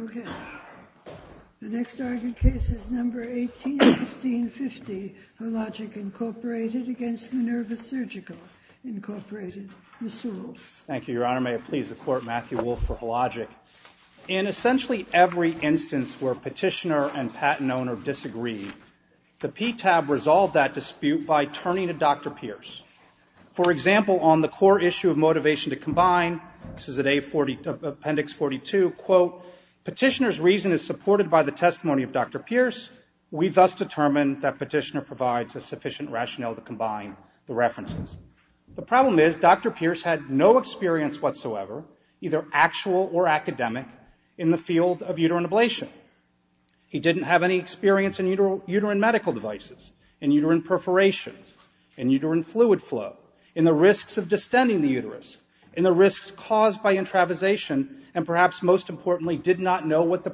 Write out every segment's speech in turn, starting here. Okay, the Hologic, Inc. v. Minerva Surgical, Inc. Mr. Wolfe. Thank you, Your Honor. May it please the Court, Matthew Wolfe for Hologic. In essentially every instance where petitioner and patent owner disagree, the PTAB resolved that dispute by turning to Dr. Pierce. For example, on the core issue of motivation to combine, this is at Appendix 42, quote, Petitioner's reason is supported by the testimony of Dr. Pierce. We thus determined that petitioner provides a sufficient rationale to combine the references. The problem is Dr. Pierce had no experience whatsoever, either actual or academic, in the field of uterine ablation. He didn't have any experience in uterine medical devices, in uterine perforations, in uterine fluid flow, in the risks of distending the uterus, in the risks caused by intravisation, and perhaps most importantly, did not know what the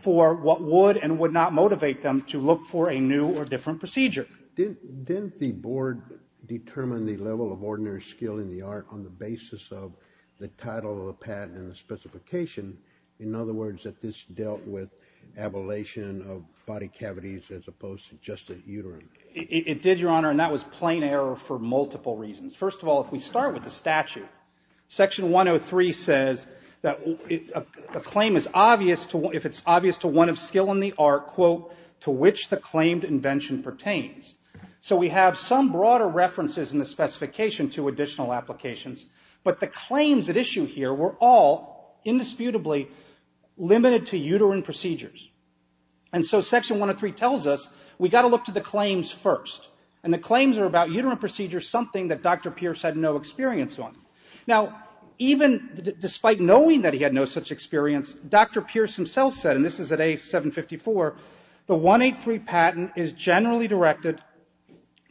for what would and would not motivate them to look for a new or different procedure. Didn't the Board determine the level of ordinary skill in the art on the basis of the title of the patent and the specification? In other words, that this dealt with ablation of body cavities as opposed to just a uterine? It did, Your Honor, and that was plain error for multiple reasons. First of all, if we start with the statute, Section 103 says that a claim is obvious if it's obvious to one of skill in the art, quote, to which the claimed invention pertains. So we have some broader references in the specification to additional applications, but the claims at issue here were all indisputably limited to uterine procedures. And so Section 103 tells us we got to look to the claims first. And the claims are about uterine procedures, something that Dr. Pierce had no experience on. Now, even despite knowing that he had no such experience, Dr. Pierce himself said, and this is at A754, the 183 patent is generally directed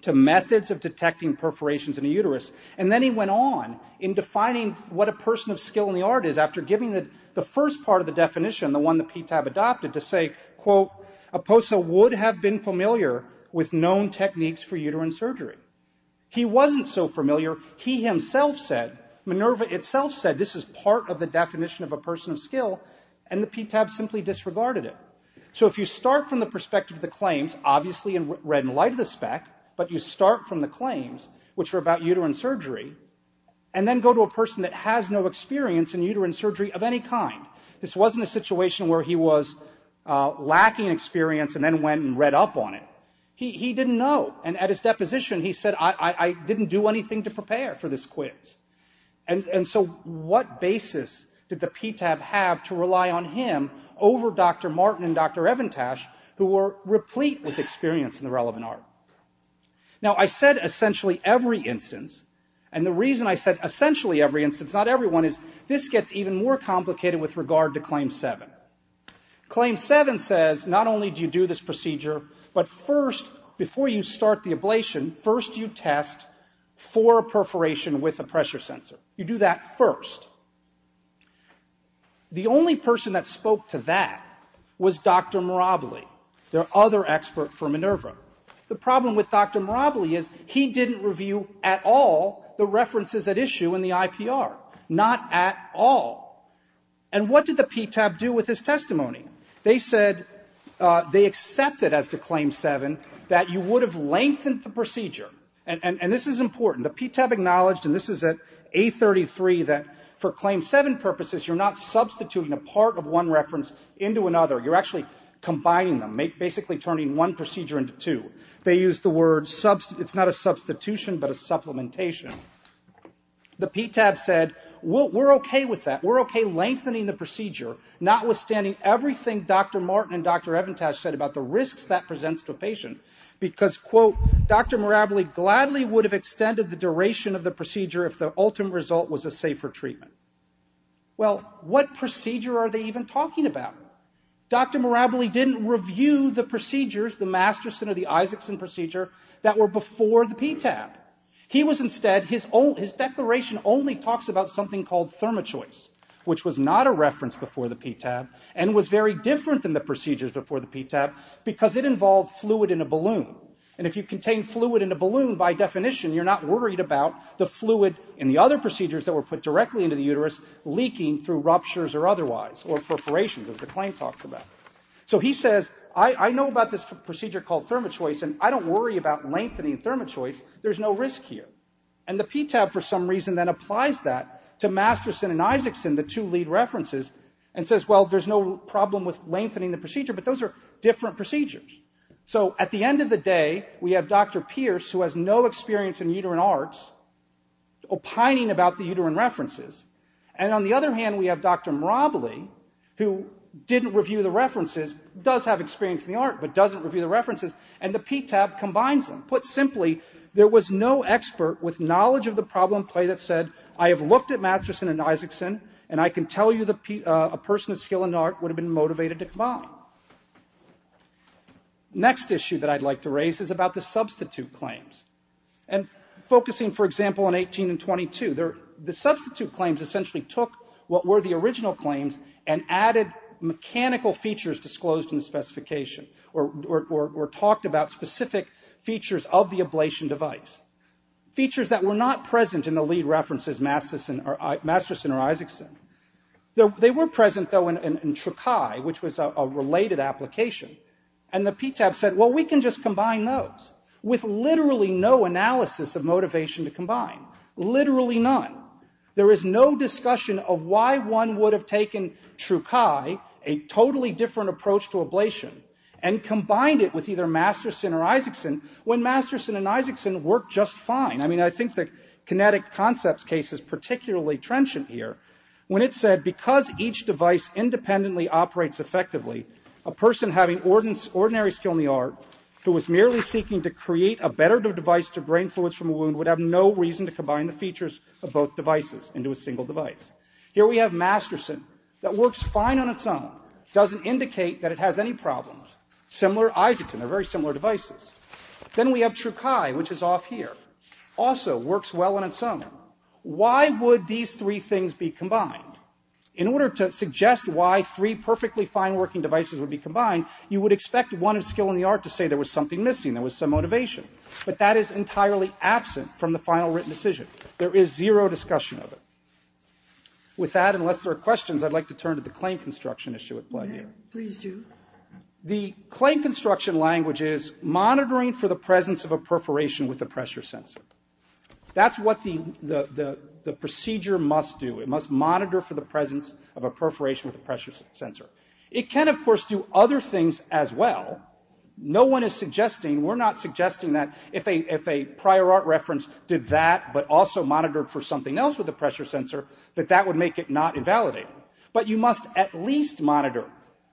to methods of detecting perforations in the uterus. And then he went on in defining what a person of skill in the art is after giving the first part of the definition, the one the PTAB adopted, to say, quote, a POSA would have been familiar with known techniques for uterine surgery. He wasn't so familiar. He himself said, Minerva itself said, this is part of the definition of a person of skill, and the PTAB simply disregarded it. So if you start from the perspective of the claims, obviously in red and light of the spec, but you start from the claims, which are about uterine surgery, and then go to a person that has no experience in uterine surgery of any kind. This wasn't a situation where he was lacking experience and then went and read up on it. He didn't know. And at his deposition, he said, I didn't do anything to prepare for this quiz. And so what basis did the PTAB have to rely on him over Dr. Martin and Dr. Evintash, who were replete with experience in the relevant art? Now, I said essentially every instance, and the reason I said essentially every instance, is to make it more complicated with regard to Claim 7. Claim 7 says, not only do you do this procedure, but first, before you start the ablation, first you test for a perforation with a pressure sensor. You do that first. The only person that spoke to that was Dr. Mirably, the other expert for Minerva. The problem with Dr. Mirably is he didn't review at all the references at issue in all. And what did the PTAB do with his testimony? They said they accepted as to Claim 7 that you would have lengthened the procedure. And this is important. The PTAB acknowledged, and this is at A33, that for Claim 7 purposes, you're not substituting a part of one reference into another. You're actually combining them, basically turning one procedure into two. They used the word, it's not a substitution, but a supplementation. The PTAB said, we're okay with that. We're okay lengthening the procedure, not withstanding everything Dr. Martin and Dr. Evintash said about the risks that presents to a patient, because, quote, Dr. Mirably gladly would have extended the duration of the procedure if the ultimate result was a safer treatment. Well, what procedure are they even talking about? Dr. Mirably didn't review the procedures, the Masterson or the Isaacson procedure, that were before the PTAB. He was instead, his declaration only talks about something called thermo-choice, which was not a reference before the PTAB, and was very different than the procedures before the PTAB, because it involved fluid in a balloon. And if you contain fluid in a balloon, by definition, you're not worried about the fluid in the other procedures that were put directly into the uterus leaking through ruptures or otherwise, or perforations, as the claim talks about. So he says, I know about this procedure called thermo-choice, and I don't worry about lengthening thermo-choice. There's no risk here. And the PTAB, for some reason, then applies that to Masterson and Isaacson, the two lead references, and says, well, there's no problem with lengthening the procedure, but those are different procedures. So at the end of the day, we have Dr. Pierce, who has no experience in uterine arts, opining about the uterine references. And on the other hand, we have Dr. Mirably, who didn't review the references, does have experience in the arts, but doesn't review the reference. So there's no expert with knowledge of the problem play that said, I have looked at Masterson and Isaacson, and I can tell you a person with skill in art would have been motivated to combine. Next issue that I'd like to raise is about the substitute claims. And focusing, for example, on 18 and 22, the substitute claims essentially took what were the original claims and added mechanical features disclosed in the specification, or features that were not present in the lead references, Masterson or Isaacson. They were present, though, in Trukai, which was a related application. And the PTAB said, well, we can just combine those, with literally no analysis of motivation to combine, literally none. There is no discussion of why one would have taken Trukai, a totally different approach to ablation, and combined it with either Masterson or Isaacson, when Masterson and Isaacson worked just fine. I mean, I think the kinetic concepts case is particularly trenchant here, when it said, because each device independently operates effectively, a person having ordinary skill in the art, who was merely seeking to create a better device to drain fluids from a wound, would have no reason to combine the features of both devices into a single device. Here we have Masterson, that works fine on its own, doesn't indicate that it has any problems. Similar, Isaacson, they're very similar devices. Then we have Trukai, which is off here. Also works well on its own. Why would these three things be combined? In order to suggest why three perfectly fine working devices would be combined, you would expect one of skill in the art to say there was something missing, there was some motivation. But that is entirely absent from the final written decision. There is zero discussion of it. With that, unless there are questions, I'd like to turn to the claim construction issue at play here. Please do. The claim construction language is monitoring for the presence of a perforation with a pressure sensor. That's what the procedure must do. It must monitor for the presence of a perforation with a pressure sensor. It can, of course, do other things as well. No one is suggesting, we're not suggesting that if a prior art reference did that, but also monitored for something else with the pressure sensor, that that would make it not invalidated. But you must at least monitor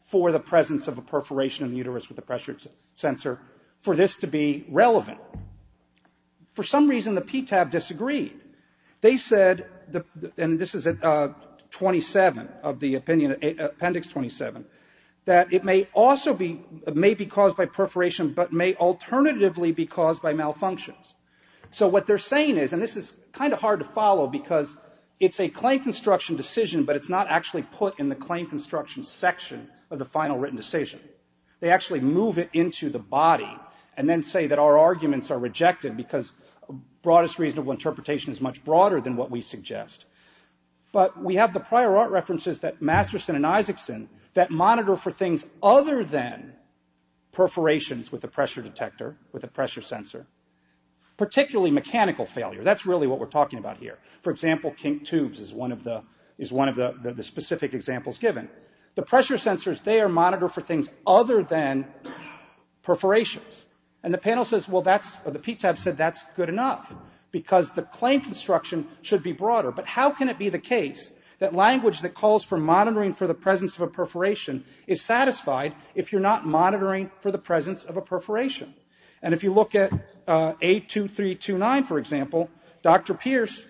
for the presence of a perforation in the uterus with a pressure sensor for this to be relevant. For some reason, the PTAB disagreed. They said, and this is at 27 of the opinion, Appendix 27, that it may also be, may be caused by perforation, but may alternatively be caused by malfunctions. So what they're saying is, and this is kind of hard to follow because it's a claim construction decision, but it's not actually put in the claim construction section of the final written decision. They actually move it into the body and then say that our arguments are rejected because broadest reasonable interpretation is much broader than what we suggest. But we have the prior art references that Masterson and Isaacson that monitor for things other than perforations with a pressure detector, with a pressure sensor, particularly mechanical failure. That's really what we're talking about here. For example, kink tubes is one of the, is one of the specific examples given. The pressure sensors, they are monitored for things other than perforations. And the panel says, well that's, the PTAB said that's good enough because the claim construction should be broader. But how can it be the case that language that calls for monitoring for the presence of a perforation is satisfied if you're not for example, Dr. Pierce,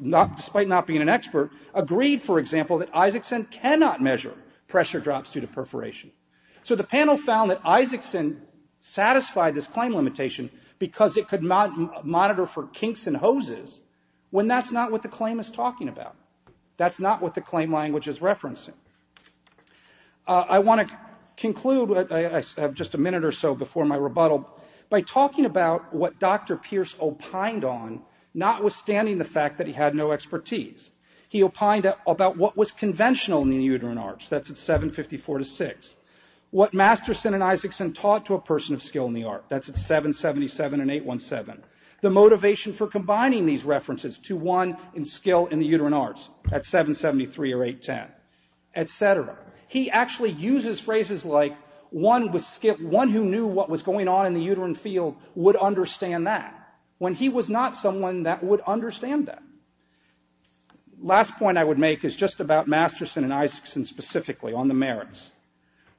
despite not being an expert, agreed for example that Isaacson cannot measure pressure drops due to perforation. So the panel found that Isaacson satisfied this claim limitation because it could monitor for kinks and hoses when that's not what the claim is talking about. That's not what the claim language is referencing. I want to conclude, I have just a minute or so before my rebuttal, by talking about what Dr. Pierce opined on, notwithstanding the fact that he had no expertise. He opined about what was conventional in the uterine arch, that's at 7.54 to 6. What Masterson and Isaacson taught to a person of skill in the arch, that's at 7.77 and 8.17. The motivation for combining these references to one in skill in the uterine arch, at 7.73 or 8.10, et cetera. He actually uses phrases like, one who knew what was going on in the uterine field would understand that, when he was not someone that would understand that. Last point I would make is just about Masterson and Isaacson specifically, on the merits.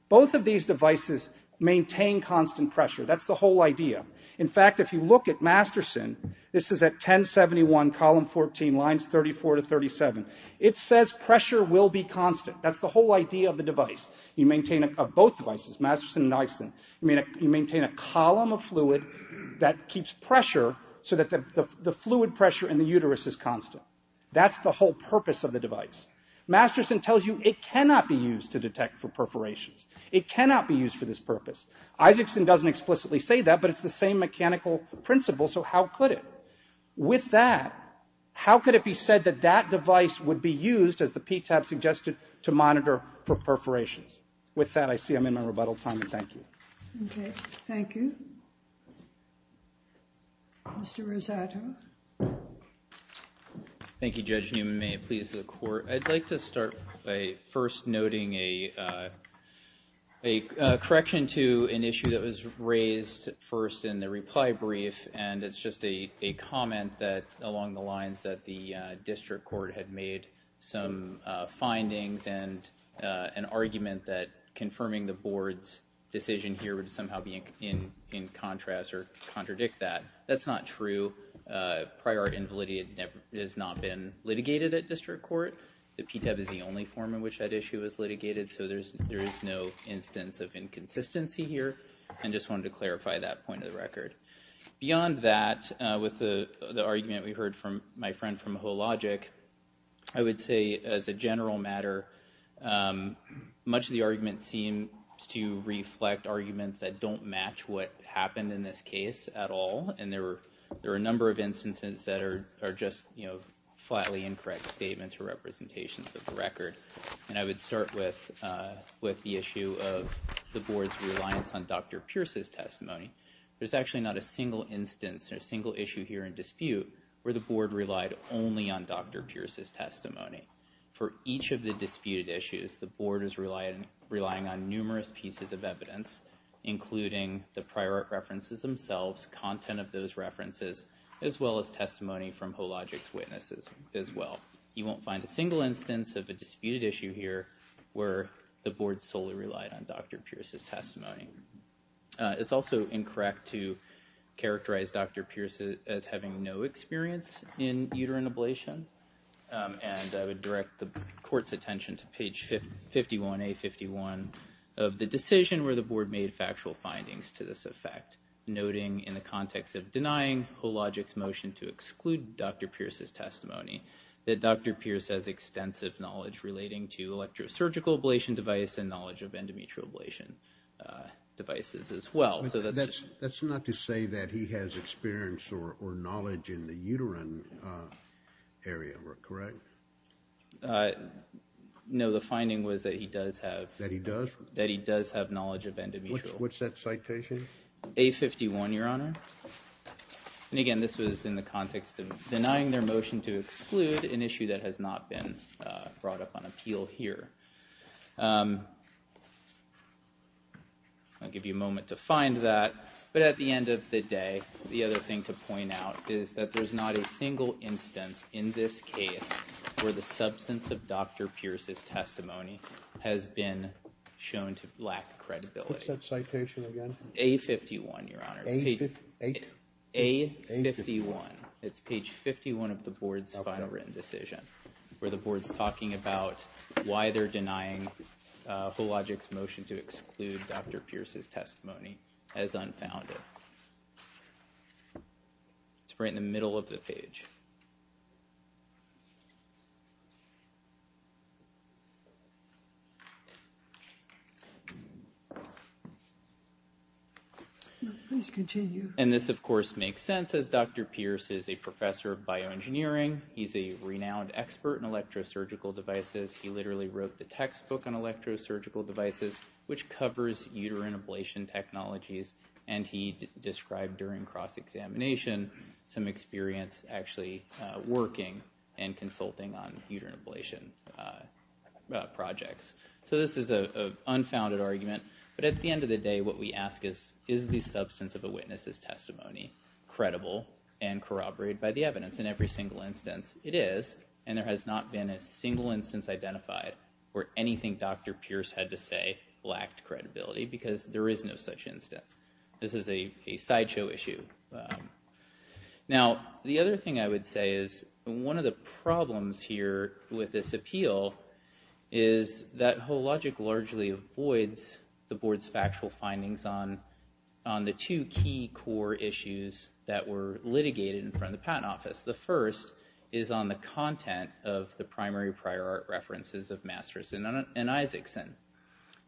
Both of these devices maintain constant pressure, that's the whole idea. In fact, if you look at Masterson, this is at 10.71, column 14, lines 34 to 37, it says pressure will be constant. That's the whole idea of the device. You maintain, of both devices, Masterson and Isaacson, you maintain a column of fluid that keeps pressure so that the fluid pressure in the uterus is constant. That's the whole purpose of the device. Masterson tells you it cannot be used to detect for perforations. It cannot be used for this purpose. Isaacson doesn't explicitly say that, but it's the same mechanical principle, so how could it? With that, how could it be said that that device would be used, as the PTAB suggested, to monitor for perforations? With that, I see I'm in my rebuttal time, and thank you. Okay. Thank you. Mr. Rosato. Thank you, Judge Newman. May it please the Court. I'd like to start by first noting a correction to an issue that was raised first in the reply brief, and it's just a comment that, along the lines that the District Court had made some findings and an argument that confirming the Board's decision here would somehow be in contrast or contradict that. That's not true. Prior invalidity has not been litigated at District Court. The PTAB is the only form in which that issue was litigated, so there's no instance of inconsistency here, and just wanted to start with the argument we heard from my friend from WHOLOGIC. I would say, as a general matter, much of the argument seems to reflect arguments that don't match what happened in this case at all, and there were a number of instances that are just, you know, flatly incorrect statements or representations of the record, and I would start with the issue of the Board's reliance on Dr. Pierce's testimony. There's actually not a single instance or single issue here in dispute where the Board relied only on Dr. Pierce's testimony. For each of the disputed issues, the Board is relying on numerous pieces of evidence, including the prior references themselves, content of those references, as well as testimony from WHOLOGIC's witnesses as well. You won't find a single instance of a disputed issue here where the Board solely relied on Dr. Pierce's testimony. It's also incorrect to characterize Dr. Pierce as having no experience in uterine ablation, and I would direct the Court's attention to page 51A51 of the decision where the Board made factual findings to this effect, noting in the context of denying WHOLOGIC's motion to exclude Dr. Pierce's testimony that Dr. Pierce has extensive knowledge relating to electrosurgical ablation device and devices as well. That's not to say that he has experience or knowledge in the uterine area, correct? No, the finding was that he does have that he does that he does have knowledge of endometrial. What's that citation? A51, Your Honor, and again this was in the context of denying their motion to exclude an issue that has not been brought up on appeal here. I'll give you a moment to find that, but at the end of the day the other thing to point out is that there's not a single instance in this case where the substance of Dr. Pierce's testimony has been shown to lack credibility. What's that citation again? A51, Your Honor. A51. It's page 51 of the Board's final written decision where the Board's talking about why they're denying WHOLOGIC's motion to exclude Dr. Pierce's testimony as unfounded. It's right in the middle of the page. Please continue. And this of course makes sense as Dr. Pierce is a professor of bioengineering. He's a renowned expert in electrosurgical devices. He literally wrote the textbook on electrosurgical devices which covers uterine ablation technologies and he described during cross-examination some experience actually working and consulting on uterine ablation projects. So this is a unfounded argument, but at the end of the day what we ask is, is the substance of a witness's testimony credible and corroborated by the evidence? In every single instance it is and there has not been a single instance identified where anything Dr. Pierce had to say lacked credibility because there is no such instance. This is a sideshow issue. Now the other thing I would say is one of the problems here with this appeal is that WHOLOGIC largely avoids the Board's factual findings on the two key core issues that were litigated in front of us. The first is on the content of the primary prior art references of Masterson and Isaacson.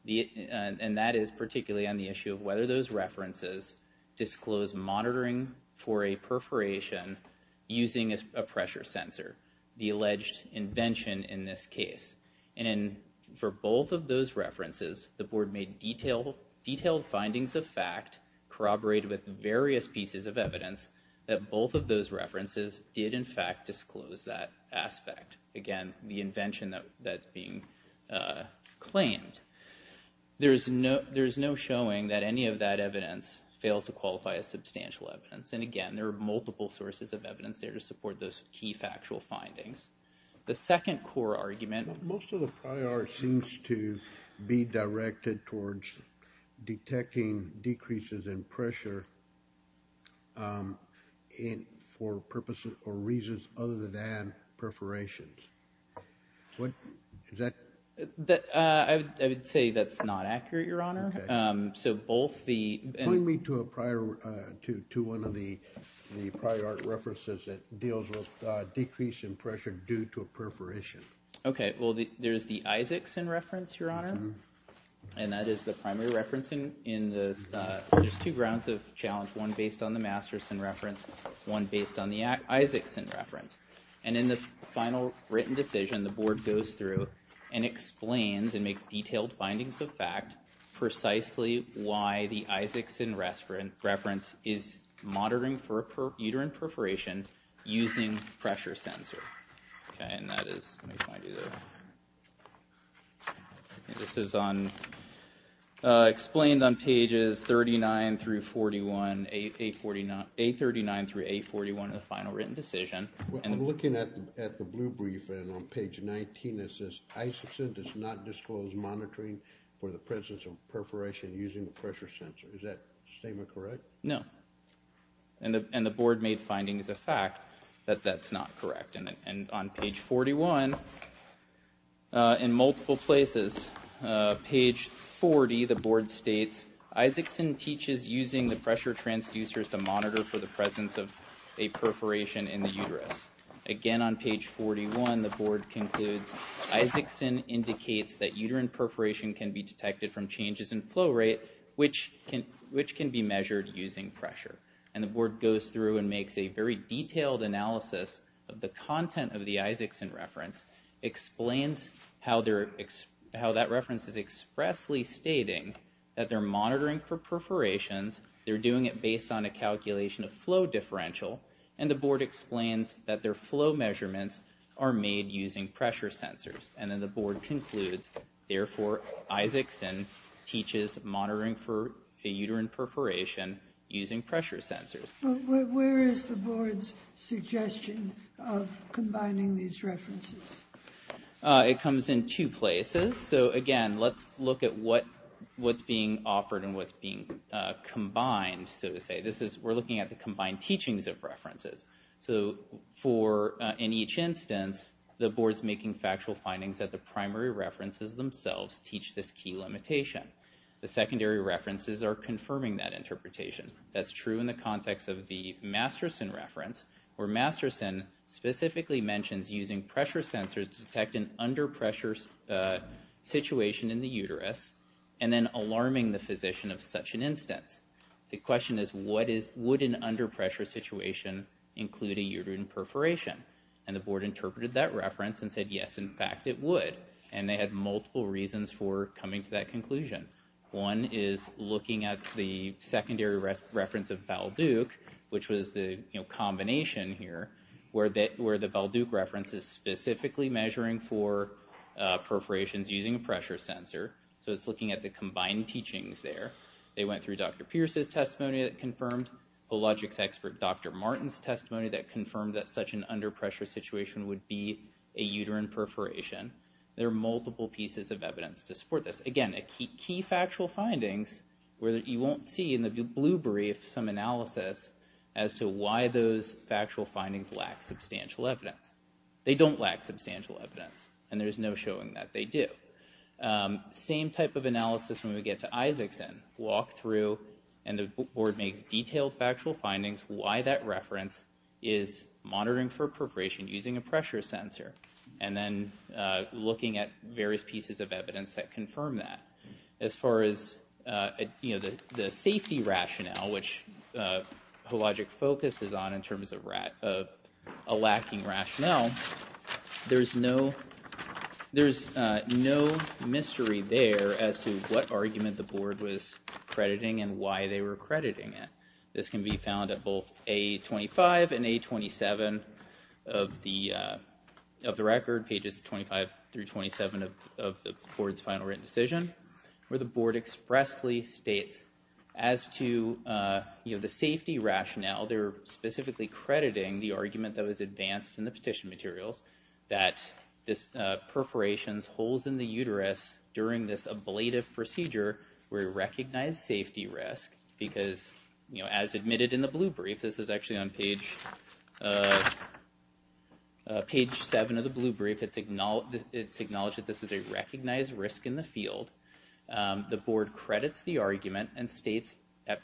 And that is particularly on the issue of whether those references disclose monitoring for a perforation using a pressure sensor, the alleged invention in this case. And for both of those references the Board made detailed findings of fact corroborated with various pieces of evidence that in fact disclose that aspect. Again, the invention that's being claimed. There is no showing that any of that evidence fails to qualify as substantial evidence. And again, there are multiple sources of evidence there to support those key factual findings. The second core argument... Most of the prior art seems to be directed towards detecting decreases in pressure for purposes or reasons other than perforations. I would say that's not accurate, Your Honor. So both the... Point me to one of the prior art references that deals with decrease in pressure due to a perforation. Okay, well there's the primary reference in the... There's two grounds of challenge. One based on the Masterson reference, one based on the Isaacson reference. And in the final written decision the Board goes through and explains and makes detailed findings of fact precisely why the Isaacson reference is monitoring for a explained on pages 39 through 41, 839 through 841 of the final written decision. I'm looking at the blue brief and on page 19 it says Isaacson does not disclose monitoring for the presence of perforation using a pressure sensor. Is that statement correct? No. And the Board made findings of fact that that's not In page 40 the Board states Isaacson teaches using the pressure transducers to monitor for the presence of a perforation in the uterus. Again on page 41 the Board concludes Isaacson indicates that uterine perforation can be detected from changes in flow rate which can be measured using pressure. And the Board goes through and makes a very detailed analysis of the content of the Isaacson reference, explains how that reference is expressly stating that they're monitoring for perforations, they're doing it based on a calculation of flow differential, and the Board explains that their flow measurements are made using pressure sensors. And then the Board concludes therefore Isaacson teaches monitoring for a uterine perforation using pressure sensors. Where is the Board's suggestion of combining these references? It comes in two places. So again let's look at what what's being offered and what's being combined. So to say this is we're looking at the combined teachings of references. So for in each instance the Board's making factual findings that the primary references themselves teach this key limitation. The secondary references are confirming that interpretation. That's true in the context of the Masterson reference where Masterson specifically mentions using pressure sensors to detect an under-pressure situation in the uterus and then alarming the physician of such an instance. The question is what is, would an under-pressure situation include a uterine perforation? And the Board interpreted that reference and said yes in fact it would. And they had multiple reasons for coming to that conclusion. One is looking at the secondary reference of Val Duke which was the combination here where that where the Val Duke reference is specifically measuring for perforations using a pressure sensor. So it's looking at the combined teachings there. They went through Dr. Pierce's testimony that confirmed the logics expert Dr. Martin's testimony that confirmed that such an under-pressure situation would be a uterine perforation. There are multiple pieces of evidence to support this. Again a key factual findings where that you won't see in the blue brief some substantial evidence. They don't lack substantial evidence and there's no showing that they do. Same type of analysis when we get to Isaacson. Walk through and the Board makes detailed factual findings why that reference is monitoring for perforation using a pressure sensor and then looking at various pieces of evidence that confirm that. As far as you know the safety rationale which Hologic focuses on in terms of a lacking rationale there's no there's no mystery there as to what argument the Board was crediting and why they were crediting it. This can be found at both A25 and A27 of the of the record pages 25 through 27 of the Board's final written decision where the the safety rationale they're specifically crediting the argument that was advanced in the petition materials that this perforations holes in the uterus during this ablative procedure were recognized safety risk because you know as admitted in the blue brief this is actually on page page 7 of the blue brief it's acknowledged that this was a recognized risk in the field. The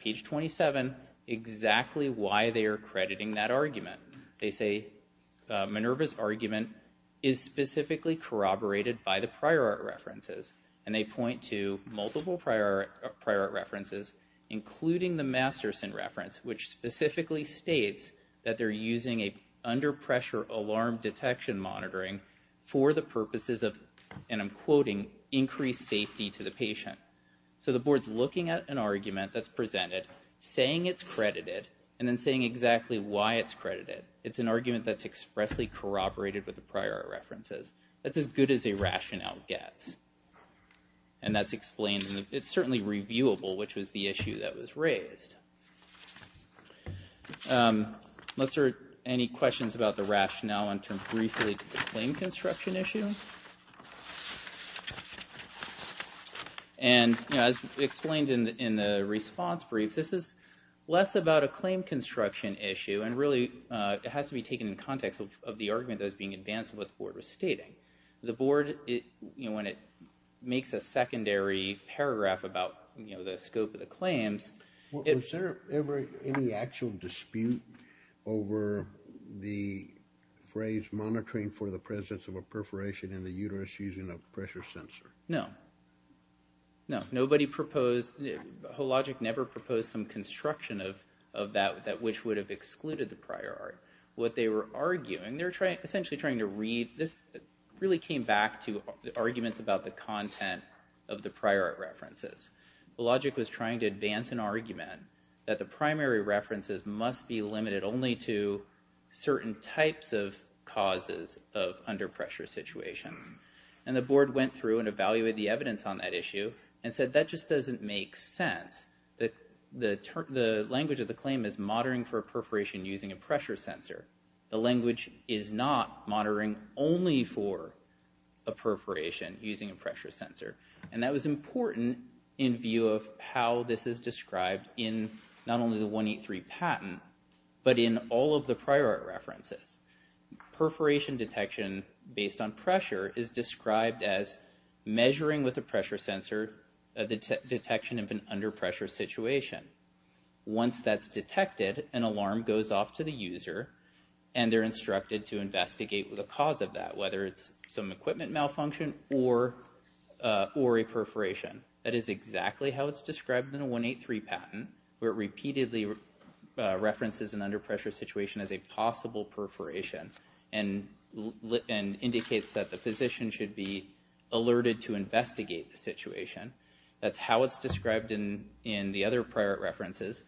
page 27 exactly why they are crediting that argument they say Minerva's argument is specifically corroborated by the prior art references and they point to multiple prior prior art references including the Masterson reference which specifically states that they're using a under pressure alarm detection monitoring for the purposes of and I'm quoting increased safety to the patient. So the saying it's credited and then saying exactly why it's credited it's an argument that's expressly corroborated with the prior references that's as good as a rationale gets and that's explained it's certainly reviewable which was the issue that was raised. Unless there are any questions about the rationale in terms briefly to the plane construction issue and you know as explained in the response brief this is less about a claim construction issue and really it has to be taken in context of the argument as being advanced what the board was stating. The board it you know when it makes a secondary paragraph about you know the scope of the claims. Is there ever any actual dispute over the phrase monitoring for the presence of a perforation in the uterus using a sensor? No, no nobody proposed the whole logic never proposed some construction of of that that which would have excluded the prior art. What they were arguing they're trying essentially trying to read this really came back to the arguments about the content of the prior art references. The logic was trying to advance an argument that the primary references must be limited only to certain types of causes of under pressure situations and the board went through and evaluated the evidence on that issue and said that just doesn't make sense that the term the language of the claim is monitoring for a perforation using a pressure sensor. The language is not monitoring only for a perforation using a pressure sensor and that was important in view of how this is described in not only the 183 patent but in all of the prior art references. Perforation detection based on pressure is described as measuring with a pressure sensor the detection of an under pressure situation. Once that's detected an alarm goes off to the user and they're instructed to investigate with a cause of that whether it's some equipment malfunction or or a perforation. That is exactly how it's described in a 183 patent where it repeatedly references an under pressure situation as a possible perforation and indicates that the physician should be alerted to investigate the situation. That's how it's described in in the other prior art references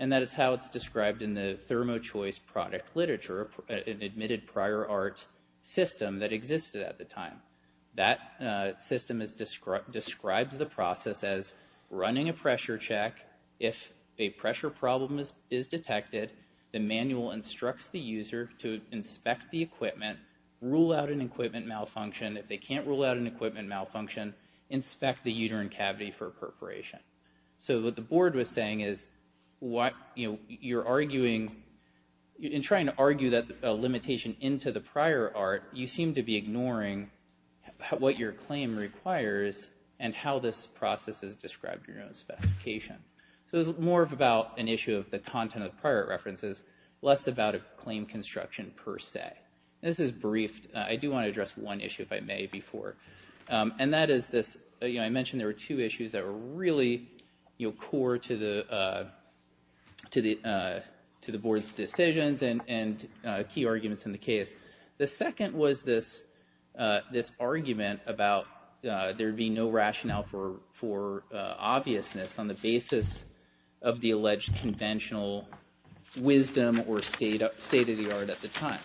and that is how it's described in the Thermo Choice product literature, an admitted prior art system that existed at the time. That system is described describes the process as running a pressure check if a pressure problem is is detected the manual instructs the user to inspect the equipment, rule out an equipment malfunction, if they can't rule out an equipment malfunction inspect the uterine cavity for a perforation. So what the board was saying is what you know in trying to argue that limitation into the prior art you seem to be ignoring what your claim requires and how this process is described in your own specification. So it's more of about an issue of the content of prior references less about a claim construction per se. This is briefed I do want to address one issue if I may before and that is this you know I mentioned there were two issues that were really you know core to the to the to the board's decisions and and key arguments in the case. The second was this this argument about there being no rationale for for obviousness on the basis of the alleged conventional wisdom or state of state of the art at the time.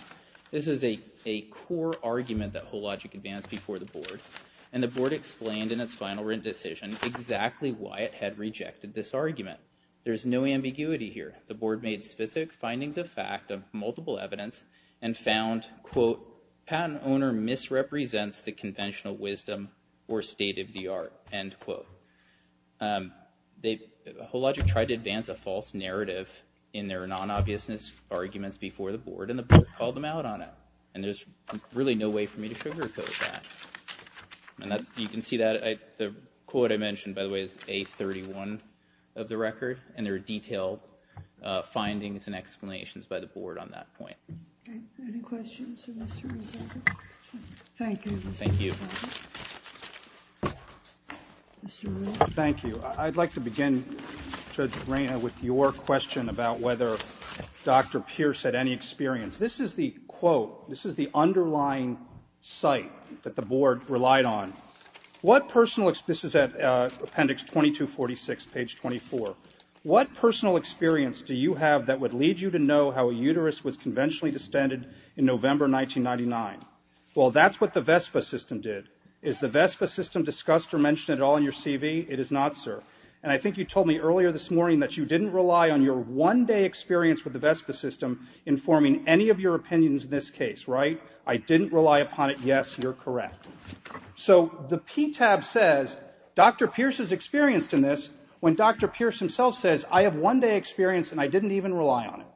This is a a core argument that Whole Logic advanced before the board and the board explained in its final written decision exactly why it had rejected this argument. There's no ambiguity here the board made specific findings of fact of multiple evidence and found quote patent owner misrepresents the conventional wisdom or state of the art end quote. Whole Logic tried to advance a false narrative in their non-obviousness arguments before the board and the board called them out on it and there's really no way for me to sugarcoat that and that's you can see that the quote I mentioned by the way is a31 of the record and there are detailed findings and explanations by the board on that point. Thank you I'd like to begin Judge Reina with your question about whether Dr. Pierce had any experience. This is the quote this is the underlying site that the board relied on. What personal this is at appendix 2246 page 24. What personal experience do you have that would lead you to know how a uterus was conventionally distended in November 1999? Well that's what the VESPA system did. Is the VESPA system discussed or mentioned at all in your CV? It is not sir and I think you told me earlier this morning that you didn't rely on your one-day experience with the VESPA system informing any of your opinions in this case right? I So the P tab says Dr. Pierce is experienced in this when Dr. Pierce himself says I have one-day experience and I didn't even rely on it.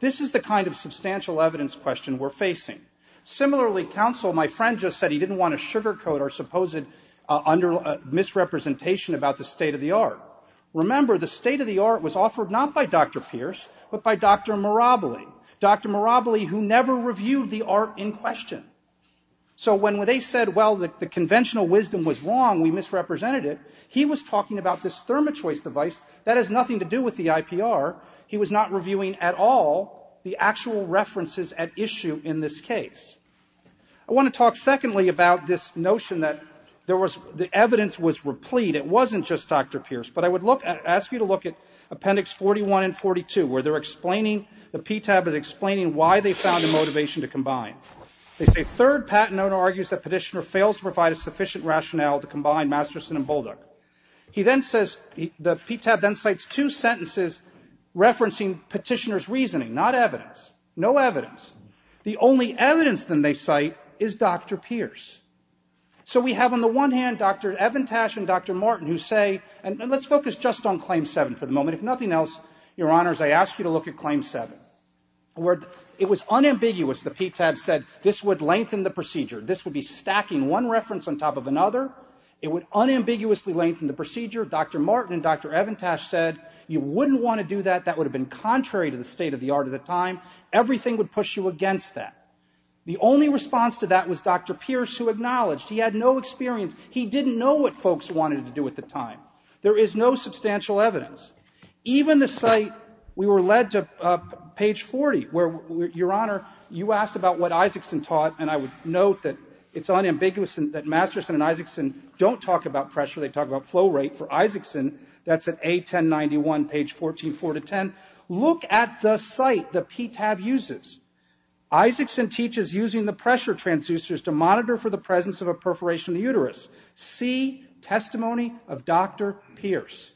This is the kind of substantial evidence question we're facing. Similarly counsel my friend just said he didn't want to sugarcoat or suppose it under misrepresentation about the state of the art. Remember the state of the art was offered not by Dr. Pierce but by Dr. Miraboli. Dr. Miraboli who never reviewed the art in question. So when they said well the conventional wisdom was wrong we misrepresented it he was talking about this thermo choice device that has nothing to do with the IPR. He was not reviewing at all the actual references at issue in this case. I want to talk secondly about this notion that there was the evidence was replete it wasn't just Dr. Pierce but I would look at ask you to look at appendix 41 and 42 where they're explaining the P tab is explaining why they found a motivation to combine. They say third patent owner argues that petitioner fails to provide a sufficient rationale to combine Masterson and Bulldog. He then says the P tab then cites two sentences referencing petitioners reasoning not evidence no evidence. The only evidence than they cite is Dr. Pierce. So we have on the one hand Dr. Evan Tash and Dr. Martin who say and let's focus just on claim seven for the moment if nothing else your ask you to look at claim seven where it was unambiguous the P tab said this would lengthen the procedure this would be stacking one reference on top of another it would unambiguously lengthen the procedure Dr. Martin and Dr. Evan Tash said you wouldn't want to do that that would have been contrary to the state of the art of the time everything would push you against that. The only response to that was Dr. Pierce who acknowledged he had no experience he didn't know what folks wanted to do at the time. There is no substantial evidence even the site we were led to page 40 where your honor you asked about what Isaacson taught and I would note that it's unambiguous and that Masterson and Isaacson don't talk about pressure they talk about flow rate for Isaacson that's at a 1091 page 14 4 to 10. Look at the site the P tab uses Isaacson teaches using the pressure transducers to monitor for the presence of a Pierce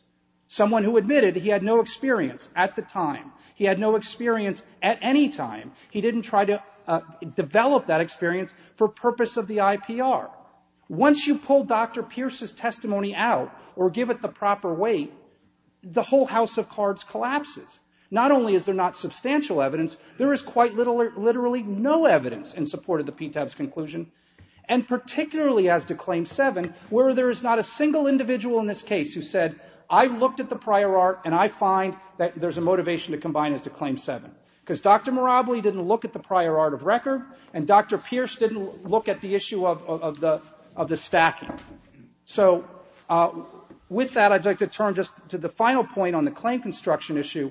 someone who admitted he had no experience at the time he had no experience at any time he didn't try to develop that experience for purpose of the IPR. Once you pull Dr. Pierce's testimony out or give it the proper weight the whole house of cards collapses not only is there not substantial evidence there is quite literally no evidence in support of the P tab's conclusion and particularly as to claim seven where there is not a case who said I've looked at the prior art and I find that there's a motivation to combine as to claim seven because Dr. Moraboli didn't look at the prior art of record and Dr. Pierce didn't look at the issue of the of the stacking. So with that I'd like to turn just to the final point on the claim construction issue.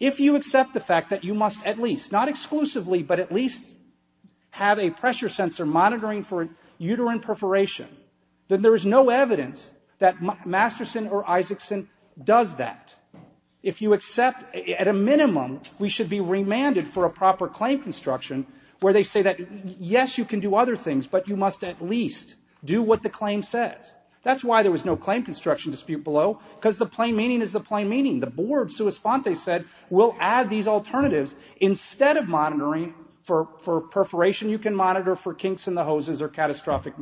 If you accept the fact that you must at least not exclusively but at least have a pressure sensor monitoring for uterine perforation then there is no evidence that Masterson or Isaacson does that. If you accept at a minimum we should be remanded for a proper claim construction where they say that yes you can do other things but you must at least do what the claim says. That's why there was no claim construction dispute below because the plain meaning is the plain meaning. The board so as font they said we'll add these alternatives instead of monitoring for for perforation you can monitor for kinks in the hoses or catastrophic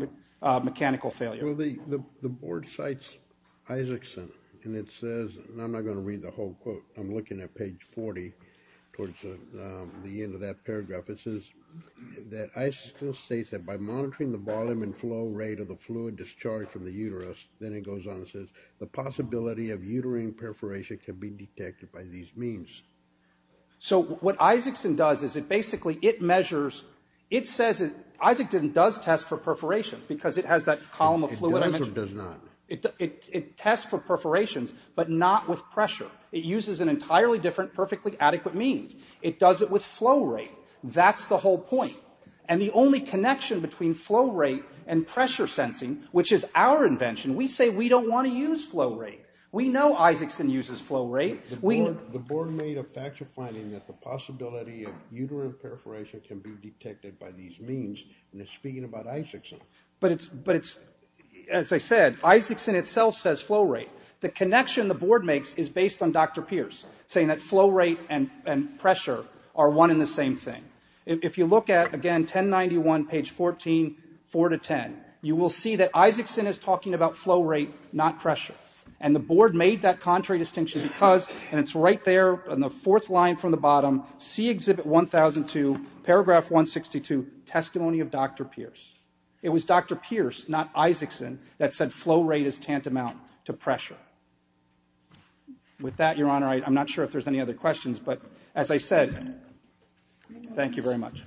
mechanical failure. Well the the board cites Isaacson and it says and I'm not going to read the whole quote I'm looking at page 40 towards the end of that paragraph it says that I still states that by monitoring the volume and flow rate of the fluid discharged from the uterus then it goes on and says the possibility of uterine perforation can be detected by these means. So what Isaacson does is it basically it measures it says it Isaacson does test for perforations because it has that column of fluid. It does or does not? It tests for perforations but not with pressure. It uses an entirely different perfectly adequate means. It does it with flow rate. That's the whole point and the only connection between flow rate and pressure sensing which is our invention we say we don't want to use flow rate. We know Isaacson uses flow rate. The board made a factual finding that the possibility of uterine perforation can be detected by these means and it's speaking about Isaacson. But it's but it's as I said Isaacson itself says flow rate. The connection the board makes is based on Dr. Pierce saying that flow rate and and pressure are one in the same thing. If you look at again 1091 page 14 4 to 10 you will see that Isaacson is talking about flow rate not pressure and the board made that contrary distinction because and it's right there on the fourth line from the bottom see exhibit 1002 paragraph 162 testimony of Dr. Pierce. It was Dr. Pierce not Isaacson that said flow rate is tantamount to pressure. With that your honor I'm not sure if there's any other questions but as I said thank you very much.